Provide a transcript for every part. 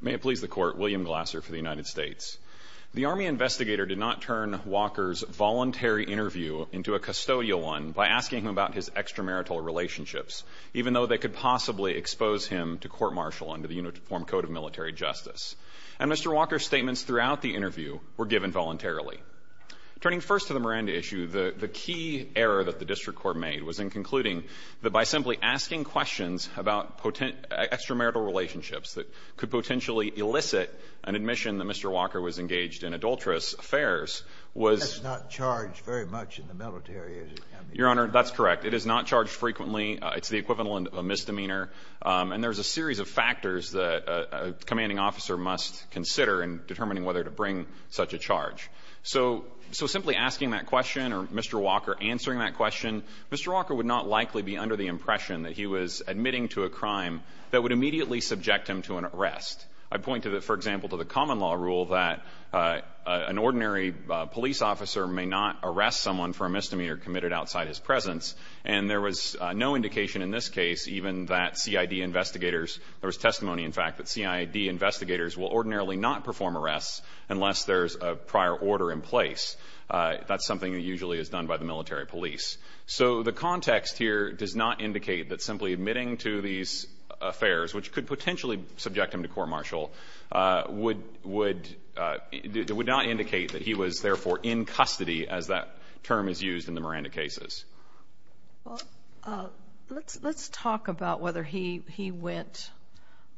May it please the Court, William Glasser for the United States. The Army investigator did not turn Walker's voluntary interview into a custodial one by asking him about his extramarital relationships, even though they could possibly expose him to court-martial under the Uniform Code of Military Justice. And Mr. Walker's statements throughout the interview were given voluntarily. Turning first to the Miranda issue, the key error that the District Court made was in the fact that it could potentially elicit an admission that Mr. Walker was engaged in adulterous affairs was not charged very much in the military as it can be. Your Honor, that's correct. It is not charged frequently. It's the equivalent of a misdemeanor. And there's a series of factors that a commanding officer must consider in determining whether to bring such a charge. So simply asking that question or Mr. Walker answering that question, Mr. Walker would not likely be under the impression that he was admitting to a crime that would immediately subject him to an arrest. I point to the – for example, to the common law rule that an ordinary police officer may not arrest someone for a misdemeanor committed outside his presence. And there was no indication in this case even that CID investigators – there was testimony, in fact, that CID investigators will ordinarily not perform arrests unless there's a prior order in place. That's something that usually is done by the military police. So the context here does not indicate that simply admitting to these affairs, which could potentially subject him to court-martial, would not indicate that he was, therefore, in custody, as that term is used in the Miranda cases. Well, let's talk about whether he went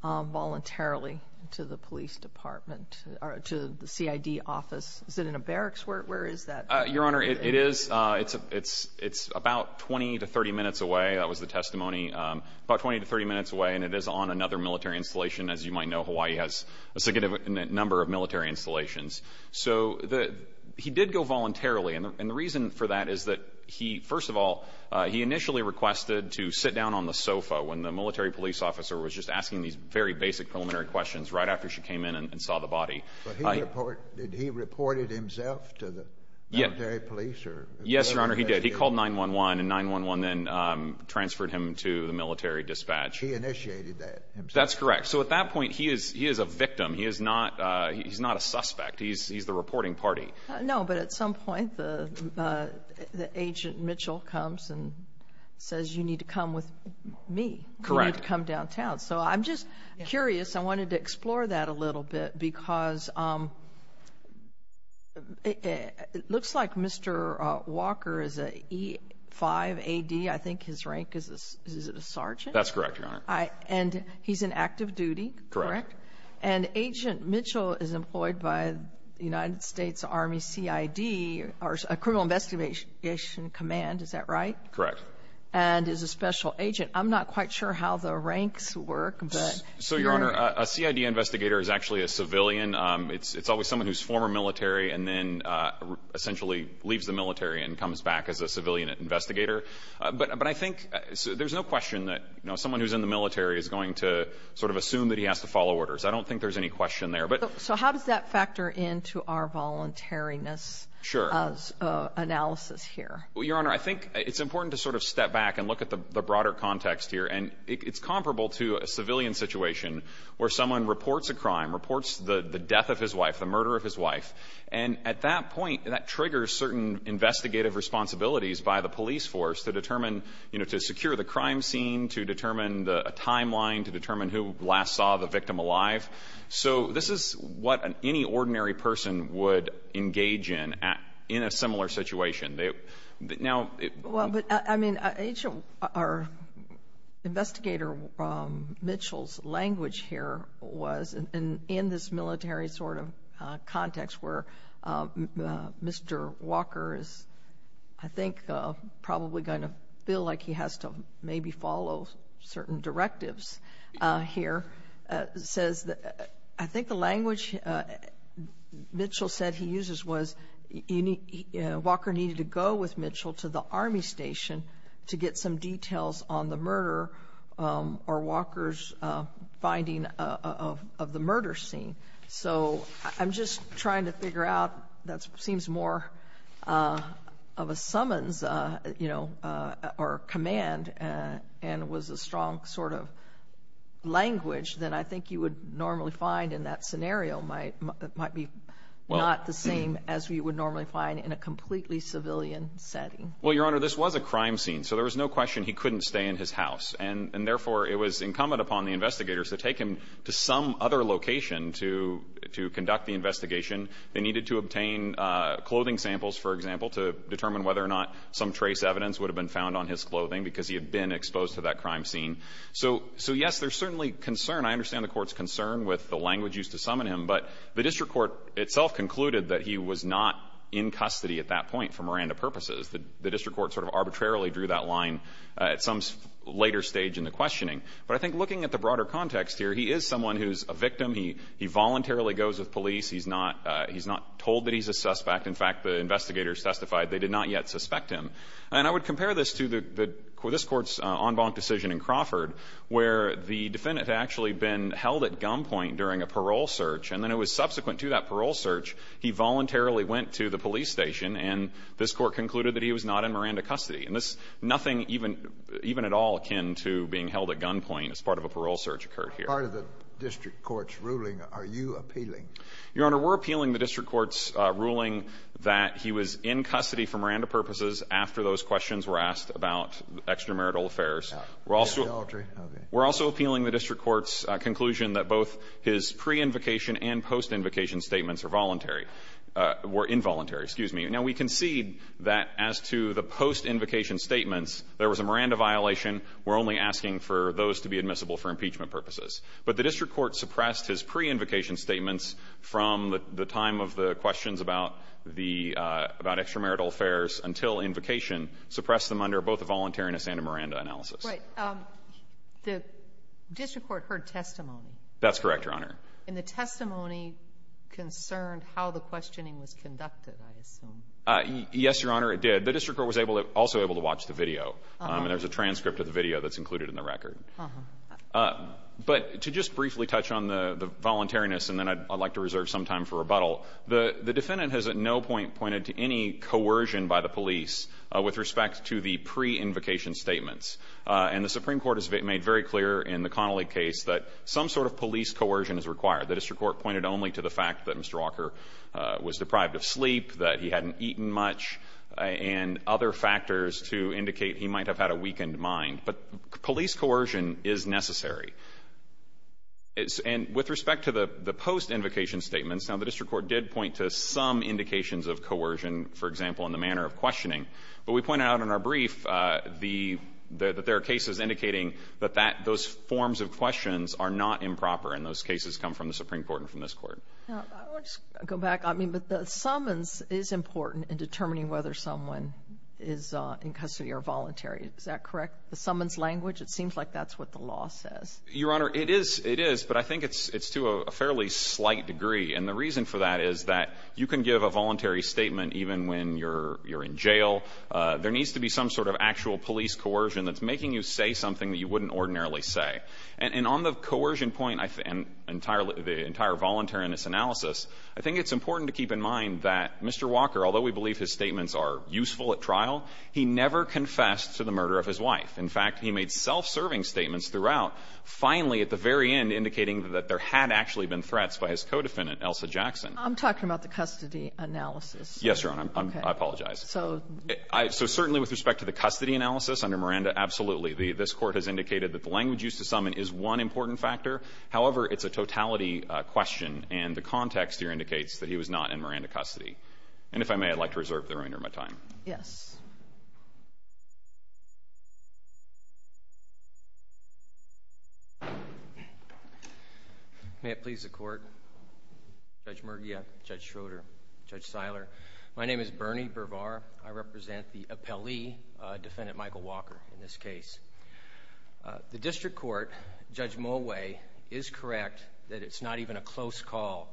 voluntarily to the police department or to the CID office. Is it in a barracks? Where is that? Your Honor, it is – it's about 20 to 30 minutes away. That was the testimony. About 20 to 30 minutes away, and it is on another military installation. As you might know, Hawaii has a significant number of military installations. So the – he did go voluntarily, and the reason for that is that he – first of all, he initially requested to sit down on the sofa when the military police officer was just asking these very basic preliminary questions right after she came in and saw the body. But he reported – did he report it himself to the military police or – Yes, Your Honor, he did. He called 9-1-1, and 9-1-1 then transferred him to the military dispatch. He initiated that himself. That's correct. So at that point, he is a victim. He is not a suspect. He's the reporting party. No, but at some point, the agent Mitchell comes and says, you need to come with me. Correct. You need to come downtown. So I'm just curious. I wanted to explore that a little bit, because it looks like Mr. Walker is an E-5AD. I think his rank is a sergeant. That's correct, Your Honor. And he's in active duty, correct? Correct. And Agent Mitchell is employed by the United States Army CID, or Criminal Investigation Command. Is that right? Correct. And is a special agent. I'm not quite sure how the ranks work, but – So, Your Honor, a CID investigator is actually a civilian. It's always someone who's former military and then essentially leaves the military and comes back as a civilian investigator. But I think there's no question that someone who's in the military is going to sort of assume that he has to follow orders. I don't think there's any question there. So how does that factor into our voluntariness analysis here? Well, Your Honor, I think it's important to sort of step back and look at the broader context here. And it's comparable to a civilian situation where someone reports a crime, reports the death of his wife, the murder of his wife. And at that point, that triggers certain investigative responsibilities by the police force to determine – you know, to secure the crime scene, to determine a timeline, to determine who last saw the victim alive. So this is what any ordinary person would engage in in a similar situation. Well, but, I mean, Agent or Investigator Mitchell's language here was, in this military sort of context where Mr. Walker is, I think, probably going to feel like he has to maybe follow certain directives here, says that – I think the language Mitchell said he would go with Mitchell to the Army Station to get some details on the murder or Walker's finding of the murder scene. So I'm just trying to figure out – that seems more of a summons, you know, or a command and was a strong sort of language than I think you would normally find in that scenario might be not the same as we would normally find in a completely civilian setting. Well, Your Honor, this was a crime scene, so there was no question he couldn't stay in his house. And therefore, it was incumbent upon the investigators to take him to some other location to conduct the investigation. They needed to obtain clothing samples, for example, to determine whether or not some trace evidence would have been found on his clothing because he had been exposed to that crime scene. So, yes, there's certainly concern. I understand the Court's concern with the language used to summon him, but the district court itself concluded that he was not in custody at that point for Miranda purposes. The district court sort of arbitrarily drew that line at some later stage in the questioning. But I think looking at the broader context here, he is someone who's a victim. He voluntarily goes with police. He's not – he's not told that he's a suspect. In fact, the investigators testified they did not yet suspect him. And I would compare this to the – this Court's en banc decision in Crawford, where the defendant had actually been held at gunpoint during a parole search. And then it was subsequent to that parole search, he voluntarily went to the police station, and this Court concluded that he was not in Miranda custody. And this – nothing even – even at all akin to being held at gunpoint as part of a parole search occurred here. The part of the district court's ruling are you appealing? Your Honor, we're appealing the district court's ruling that he was in custody for Miranda purposes after those questions were asked about extramarital affairs. We're also – we're also appealing the district court's conclusion that both his pre-invocation and post-invocation statements are voluntary – were involuntary. Excuse me. Now, we concede that as to the post-invocation statements, there was a Miranda violation. We're only asking for those to be admissible for impeachment purposes. But the district court suppressed his pre-invocation statements from the time of the questions about the – about extramarital affairs until invocation suppressed them under both a voluntariness and a Miranda analysis. Right. The district court heard testimony. That's correct, Your Honor. And the testimony concerned how the questioning was conducted, I assume. Yes, Your Honor, it did. The district court was able to – also able to watch the video. And there's a transcript of the video that's included in the record. But to just briefly touch on the voluntariness, and then I'd like to reserve some time for rebuttal, the defendant has at no point pointed to any coercion by the police with respect to the pre-invocation statements. And the Supreme Court has made very clear in the Connolly case that some sort of police coercion is required. The district court pointed only to the fact that Mr. Walker was deprived of sleep, that he hadn't eaten much, and other factors to indicate he might have had a weakened mind. But police coercion is necessary. And with respect to the post-invocation statements, now, the district court did point to some indications of coercion, for example, in the manner of questioning. But we pointed out in our brief the – that there are cases indicating that that – those forms of questions are not improper. And those cases come from the Supreme Court and from this Court. Now, I want to just go back. I mean, but the summons is important in determining whether someone is in custody or voluntary. Is that correct? The summons language, it seems like that's what the law says. Your Honor, it is. It is. But I think it's to a fairly slight degree. And the reason for that is that you can give a voluntary statement even when you're in jail. There needs to be some sort of actual police coercion that's making you say something that you wouldn't ordinarily say. And on the coercion point, I think, and entirely – the entire voluntariness analysis, I think it's important to keep in mind that Mr. Walker, although we believe his statements are useful at trial, he never confessed to the murder of his wife. In fact, he made self-serving statements throughout, finally at the very end indicating that there had actually been threats by his co-defendant, Elsa Jackson. I'm talking about the custody analysis. Yes, Your Honor. I apologize. So – So certainly with respect to the custody analysis under Miranda, absolutely. This Court has indicated that the language used to summon is one important factor. However, it's a totality question, and the context here indicates that he was not in Miranda custody. And if I may, I'd like to reserve the remainder of my time. Yes. May it please the Court. Judge Murguia, Judge Schroeder, Judge Seiler, my name is Bernie Bervar. I represent the appellee, Defendant Michael Walker, in this case. The district court, Judge Moway, is correct that it's not even a close call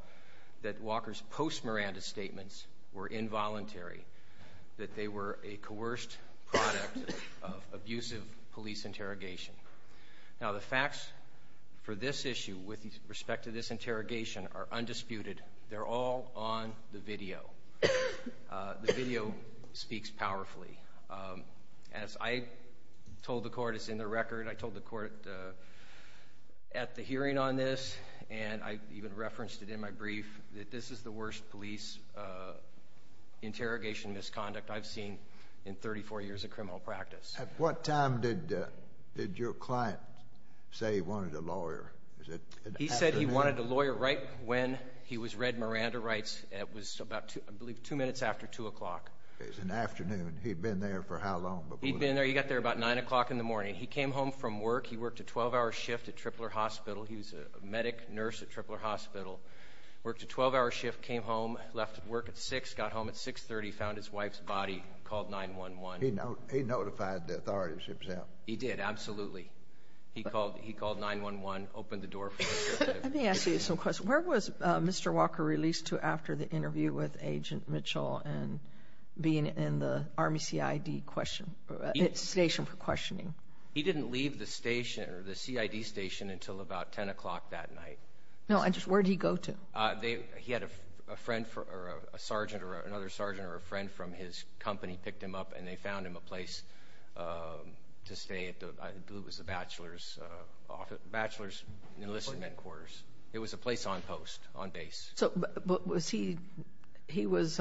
that Walker's Most Miranda statements were involuntary, that they were a coerced product of abusive police interrogation. Now, the facts for this issue with respect to this interrogation are undisputed. They're all on the video. The video speaks powerfully. As I told the Court, it's in the record. I told the Court at the hearing on this, and I even referenced it in my brief, that this is the worst police interrogation misconduct I've seen in 34 years of criminal practice. At what time did your client say he wanted a lawyer? He said he wanted a lawyer right when he was read Miranda rights. It was about, I believe, two minutes after 2 o'clock. It was in the afternoon. He'd been there for how long before? He'd been there. He got there about 9 o'clock in the morning. He came home from work. He worked a 12-hour shift at Tripler Hospital. He was a medic nurse at Tripler Hospital. Worked a 12-hour shift, came home, left work at 6, got home at 6.30, found his wife's body, called 911. He notified the authorities himself. He did, absolutely. He called 911, opened the door for interrogation. Let me ask you some questions. Where was Mr. Walker released to after the interview with Agent Mitchell and being in the Army CID question or station for questioning? He didn't leave the station or the CID station until about 10 o'clock that night. He was in the Army CID station for questioning. He was in the Army CID station for questioning. He had a friend or a sergeant or another sergeant or a friend from his company picked him up and they found him a place to stay at the, I believe it was the bachelor's office, bachelor's enlistment quarters. It was a place on post, on base. So was he, he was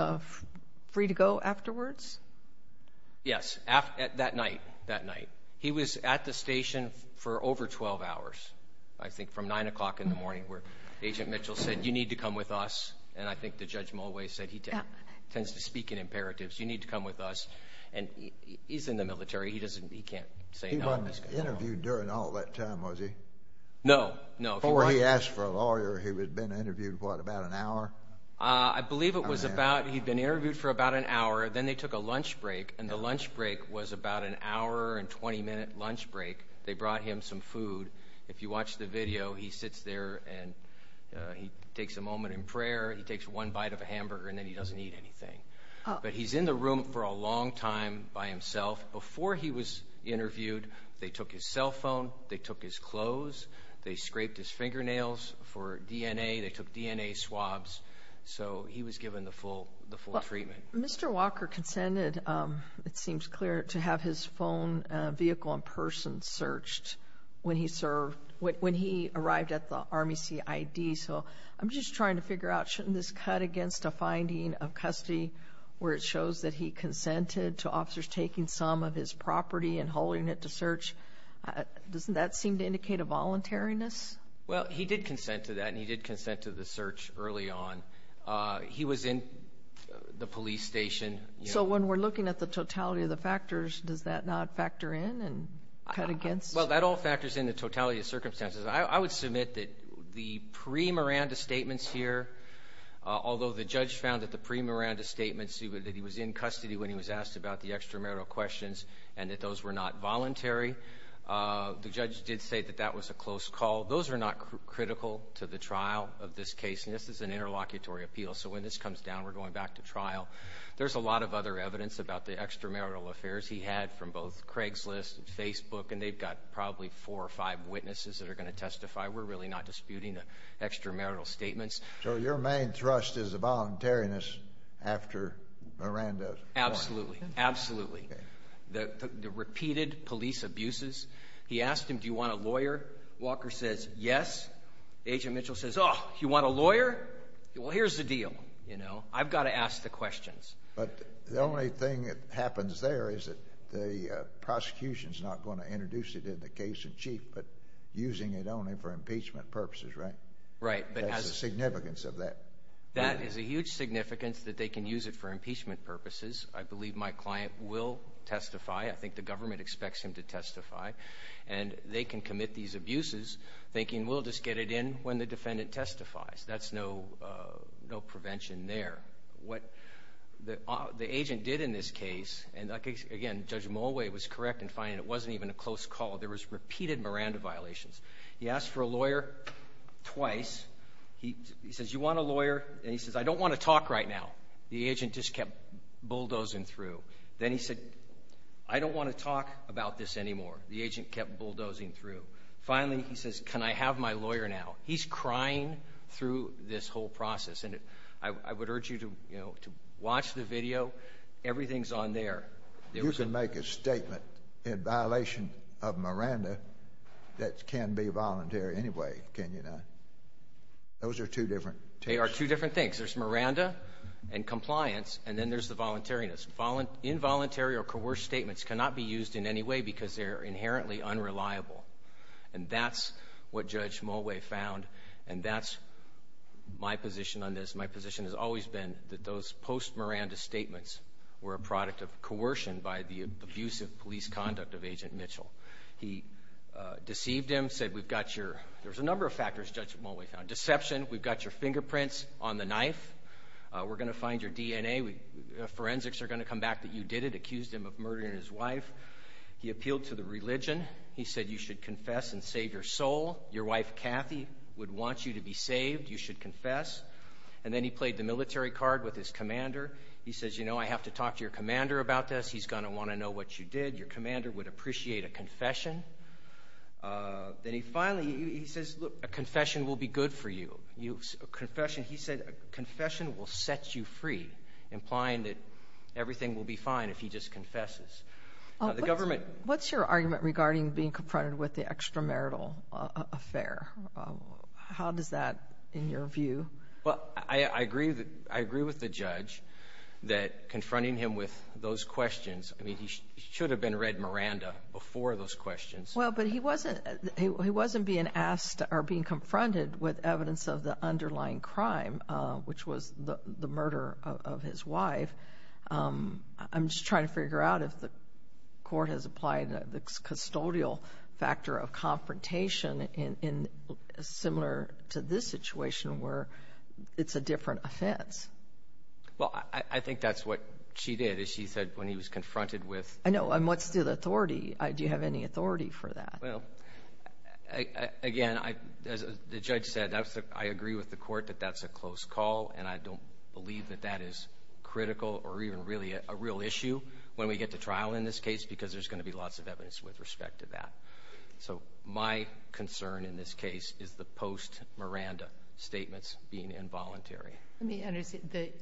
free to go afterwards? Yes, that night, that night. He was at the station for over 12 hours, I think, from 9 o'clock in the morning where Agent Mitchell said, you need to come with us. And I think the Judge Mulway said he tends to speak in imperatives. You need to come with us. And he's in the military. He doesn't, he can't say no. He wasn't interviewed during all that time, was he? No, no. Before he asked for a lawyer, he had been interviewed, what, about an hour? I believe it was about, he'd been interviewed for about an hour. Then they took a lunch break and the lunch break was about an hour and 20-minute lunch break. They brought him some food. If you watch the video, he sits there and he takes a moment in prayer. He takes one bite of a hamburger and then he doesn't eat anything. But he's in the room for a long time by himself. Before he was interviewed, they took his cell phone. They took his clothes. They scraped his fingernails for DNA. They took DNA swabs. So he was given the full treatment. Mr. Walker consented, it seems clear, to have his phone vehicle in person searched when he served, when he arrived at the Army CID. So I'm just trying to figure out, shouldn't this cut against a finding of custody where it shows that he consented to officers taking some of his property and hauling it to search? Doesn't that seem to indicate a voluntariness? Well, he did consent to that and he did consent to the search early on. He was in the police station. So when we're looking at the totality of the factors, does that not factor in and cut against? Well, that all factors in the totality of circumstances. I would submit that the pre-Miranda statements here, although the judge found that the pre-Miranda statements that he was in custody when he was asked about the extramarital questions and that those were not voluntary, the judge did say that that was a close call. Those are not critical to the trial of this case. This is an interlocutory appeal. So when this comes down, we're going back to trial. There's a lot of other evidence about the extramarital affairs he had from both Craigslist and Facebook, and they've got probably four or five witnesses that are going to testify. We're really not disputing the extramarital statements. So your main thrust is the voluntariness after Miranda. Absolutely. Absolutely. The repeated police abuses. He asked him, do you want a lawyer? Walker says yes. Agent Mitchell says, oh, you want a lawyer? Well, here's the deal, you know. I've got to ask the questions. But the only thing that happens there is that the prosecution is not going to introduce it in the case in chief, but using it only for impeachment purposes, right? Right. That's the significance of that. That is a huge significance that they can use it for impeachment purposes. I believe my client will testify. I think the government expects him to testify. And they can commit these abuses thinking we'll just get it in when the defendant testifies. That's no prevention there. What the agent did in this case, and again, Judge Mulway was correct in finding it wasn't even a close call. There was repeated Miranda violations. He asked for a lawyer twice. He says, you want a lawyer? And he says, I don't want to talk right now. The agent just kept bulldozing through. Then he said, I don't want to talk about this anymore. The agent kept bulldozing through. Finally, he says, can I have my lawyer now? He's crying through this whole process. And I would urge you to watch the video. Everything's on there. You can make a statement in violation of Miranda that can be voluntary anyway, can you not? Those are two different things. They are two different things. There's Miranda and compliance, and then there's the voluntariness. Involuntary or coerced statements cannot be used in any way because they're inherently unreliable. And that's what Judge Mulway found, and that's my position on this. My position has always been that those post-Miranda statements were a product of coercion by the abusive police conduct of Agent Mitchell. He deceived him, said we've got your ‑‑ there's a number of factors Judge Mulway found. Deception, we've got your fingerprints on the knife. We're going to find your DNA. Forensics are going to come back that you did it, accused him of murdering his wife. He appealed to the religion. He said you should confess and save your soul. Your wife, Kathy, would want you to be saved. You should confess. And then he played the military card with his commander. He says, you know, I have to talk to your commander about this. He's going to want to know what you did. Your commander would appreciate a confession. Then he finally, he says, look, a confession will be good for you. He said a confession will set you free, implying that everything will be fine if he just confesses. What's your argument regarding being confronted with the extramarital affair? How does that, in your view? Well, I agree with the judge that confronting him with those questions, I mean, he should have been read Miranda before those questions. Well, but he wasn't being asked or being confronted with evidence of the underlying crime, which was the murder of his wife. I'm just trying to figure out if the court has applied the custodial factor of confrontation in similar to this situation where it's a different offense. Well, I think that's what she did is she said when he was confronted with. I know. And what's the authority? Do you have any authority for that? Well, again, as the judge said, I agree with the court that that's a close call, and I don't believe that that is critical or even really a real issue when we get to trial in this case because there's going to be lots of evidence with respect to that. So my concern in this case is the post-Miranda statements being involuntary. Let me understand.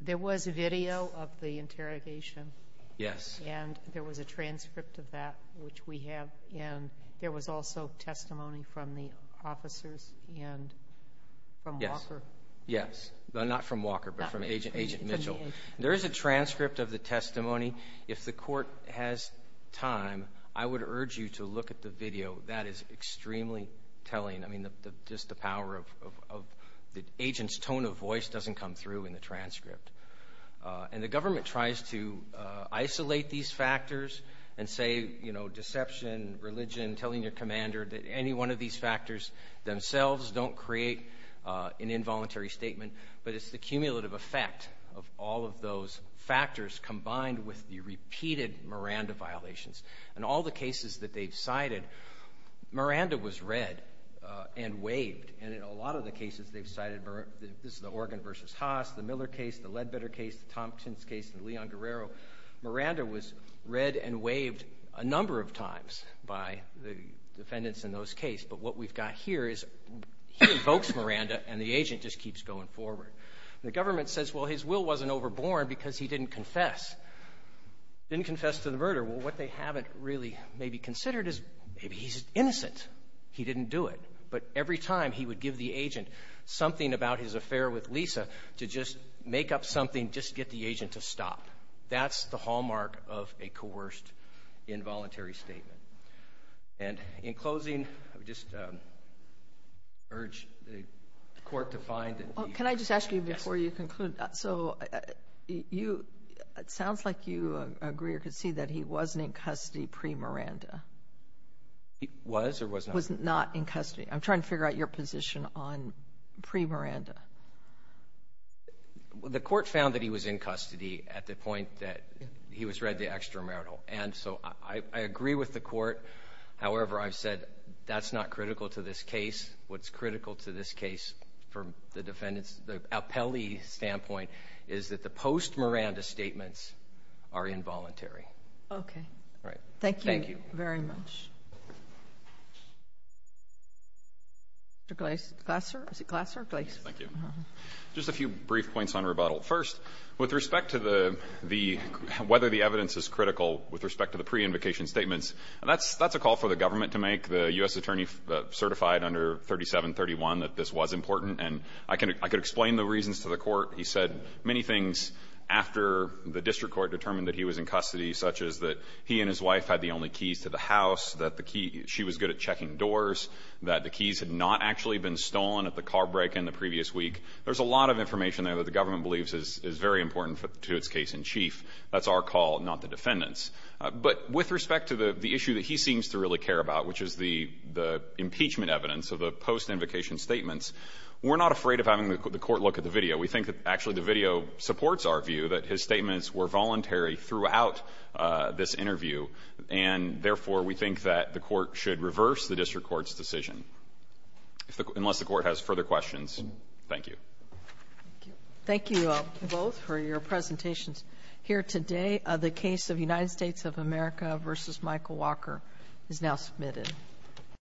There was video of the interrogation. Yes. And there was a transcript of that, which we have. And there was also testimony from the officers and from Walker. Yes. Not from Walker, but from Agent Mitchell. There is a transcript of the testimony. If the court has time, I would urge you to look at the video. That is extremely telling. I mean, just the power of the agent's tone of voice doesn't come through in the transcript. And the government tries to isolate these factors and say, you know, deception, religion, telling your commander that any one of these factors themselves don't create an involuntary statement, but it's the cumulative effect of all of those factors combined with the repeated Miranda violations. In all the cases that they've cited, Miranda was read and waived. And in a lot of the cases they've cited, this is the Organ v. Haas, the Miller case, the Ledbetter case, the Tompkins case, the Leon Guerrero, Miranda was read and waived a number of times by the defendants in those cases. But what we've got here is he invokes Miranda, and the agent just keeps going forward. The government says, well, his will wasn't overborne because he didn't confess. Didn't confess to the murder. Well, what they haven't really maybe considered is maybe he's innocent. He didn't do it. But every time he would give the agent something about his affair with Lisa to just make up something, just get the agent to stop. That's the hallmark of a coerced involuntary statement. And in closing, I would just urge the Court to find that the ---- Can I just ask you before you conclude? So you ---- it sounds like you agree or concede that he wasn't in custody pre-Miranda. He was or was not? He was not in custody. I'm trying to figure out your position on pre-Miranda. The Court found that he was in custody at the point that he was read the extramarital. And so I agree with the Court. However, I've said that's not critical to this case. What's critical to this case from the defendant's, the appellee's standpoint is that the post-Miranda statements are involuntary. Okay. Thank you very much. Mr. Glaser? Is it Glaser? Thank you. Just a few brief points on rebuttal. First, with respect to the ---- whether the evidence is critical with respect to the pre-invocation statements, that's a call for the government to make. The U.S. attorney certified under 3731 that this was important. And I can explain the reasons to the Court. He said many things after the district court determined that he was in custody, such as that he and his wife had the only keys to the house, that the key ---- she was good at checking doors, that the keys had not actually been stolen at the car break in the previous week. There's a lot of information there that the government believes is very important to its case in chief. That's our call, not the defendant's. But with respect to the issue that he seems to really care about, which is the impeachment evidence of the post-invocation statements, we're not afraid of having the Court look at the video. We think that actually the video supports our view that his statements were voluntary throughout this interview, and therefore, we think that the Court should reverse the district court's decision. Unless the Court has further questions, thank you. Thank you both for your presentations here today. The case of United States of America v. Michael Walker is now submitted.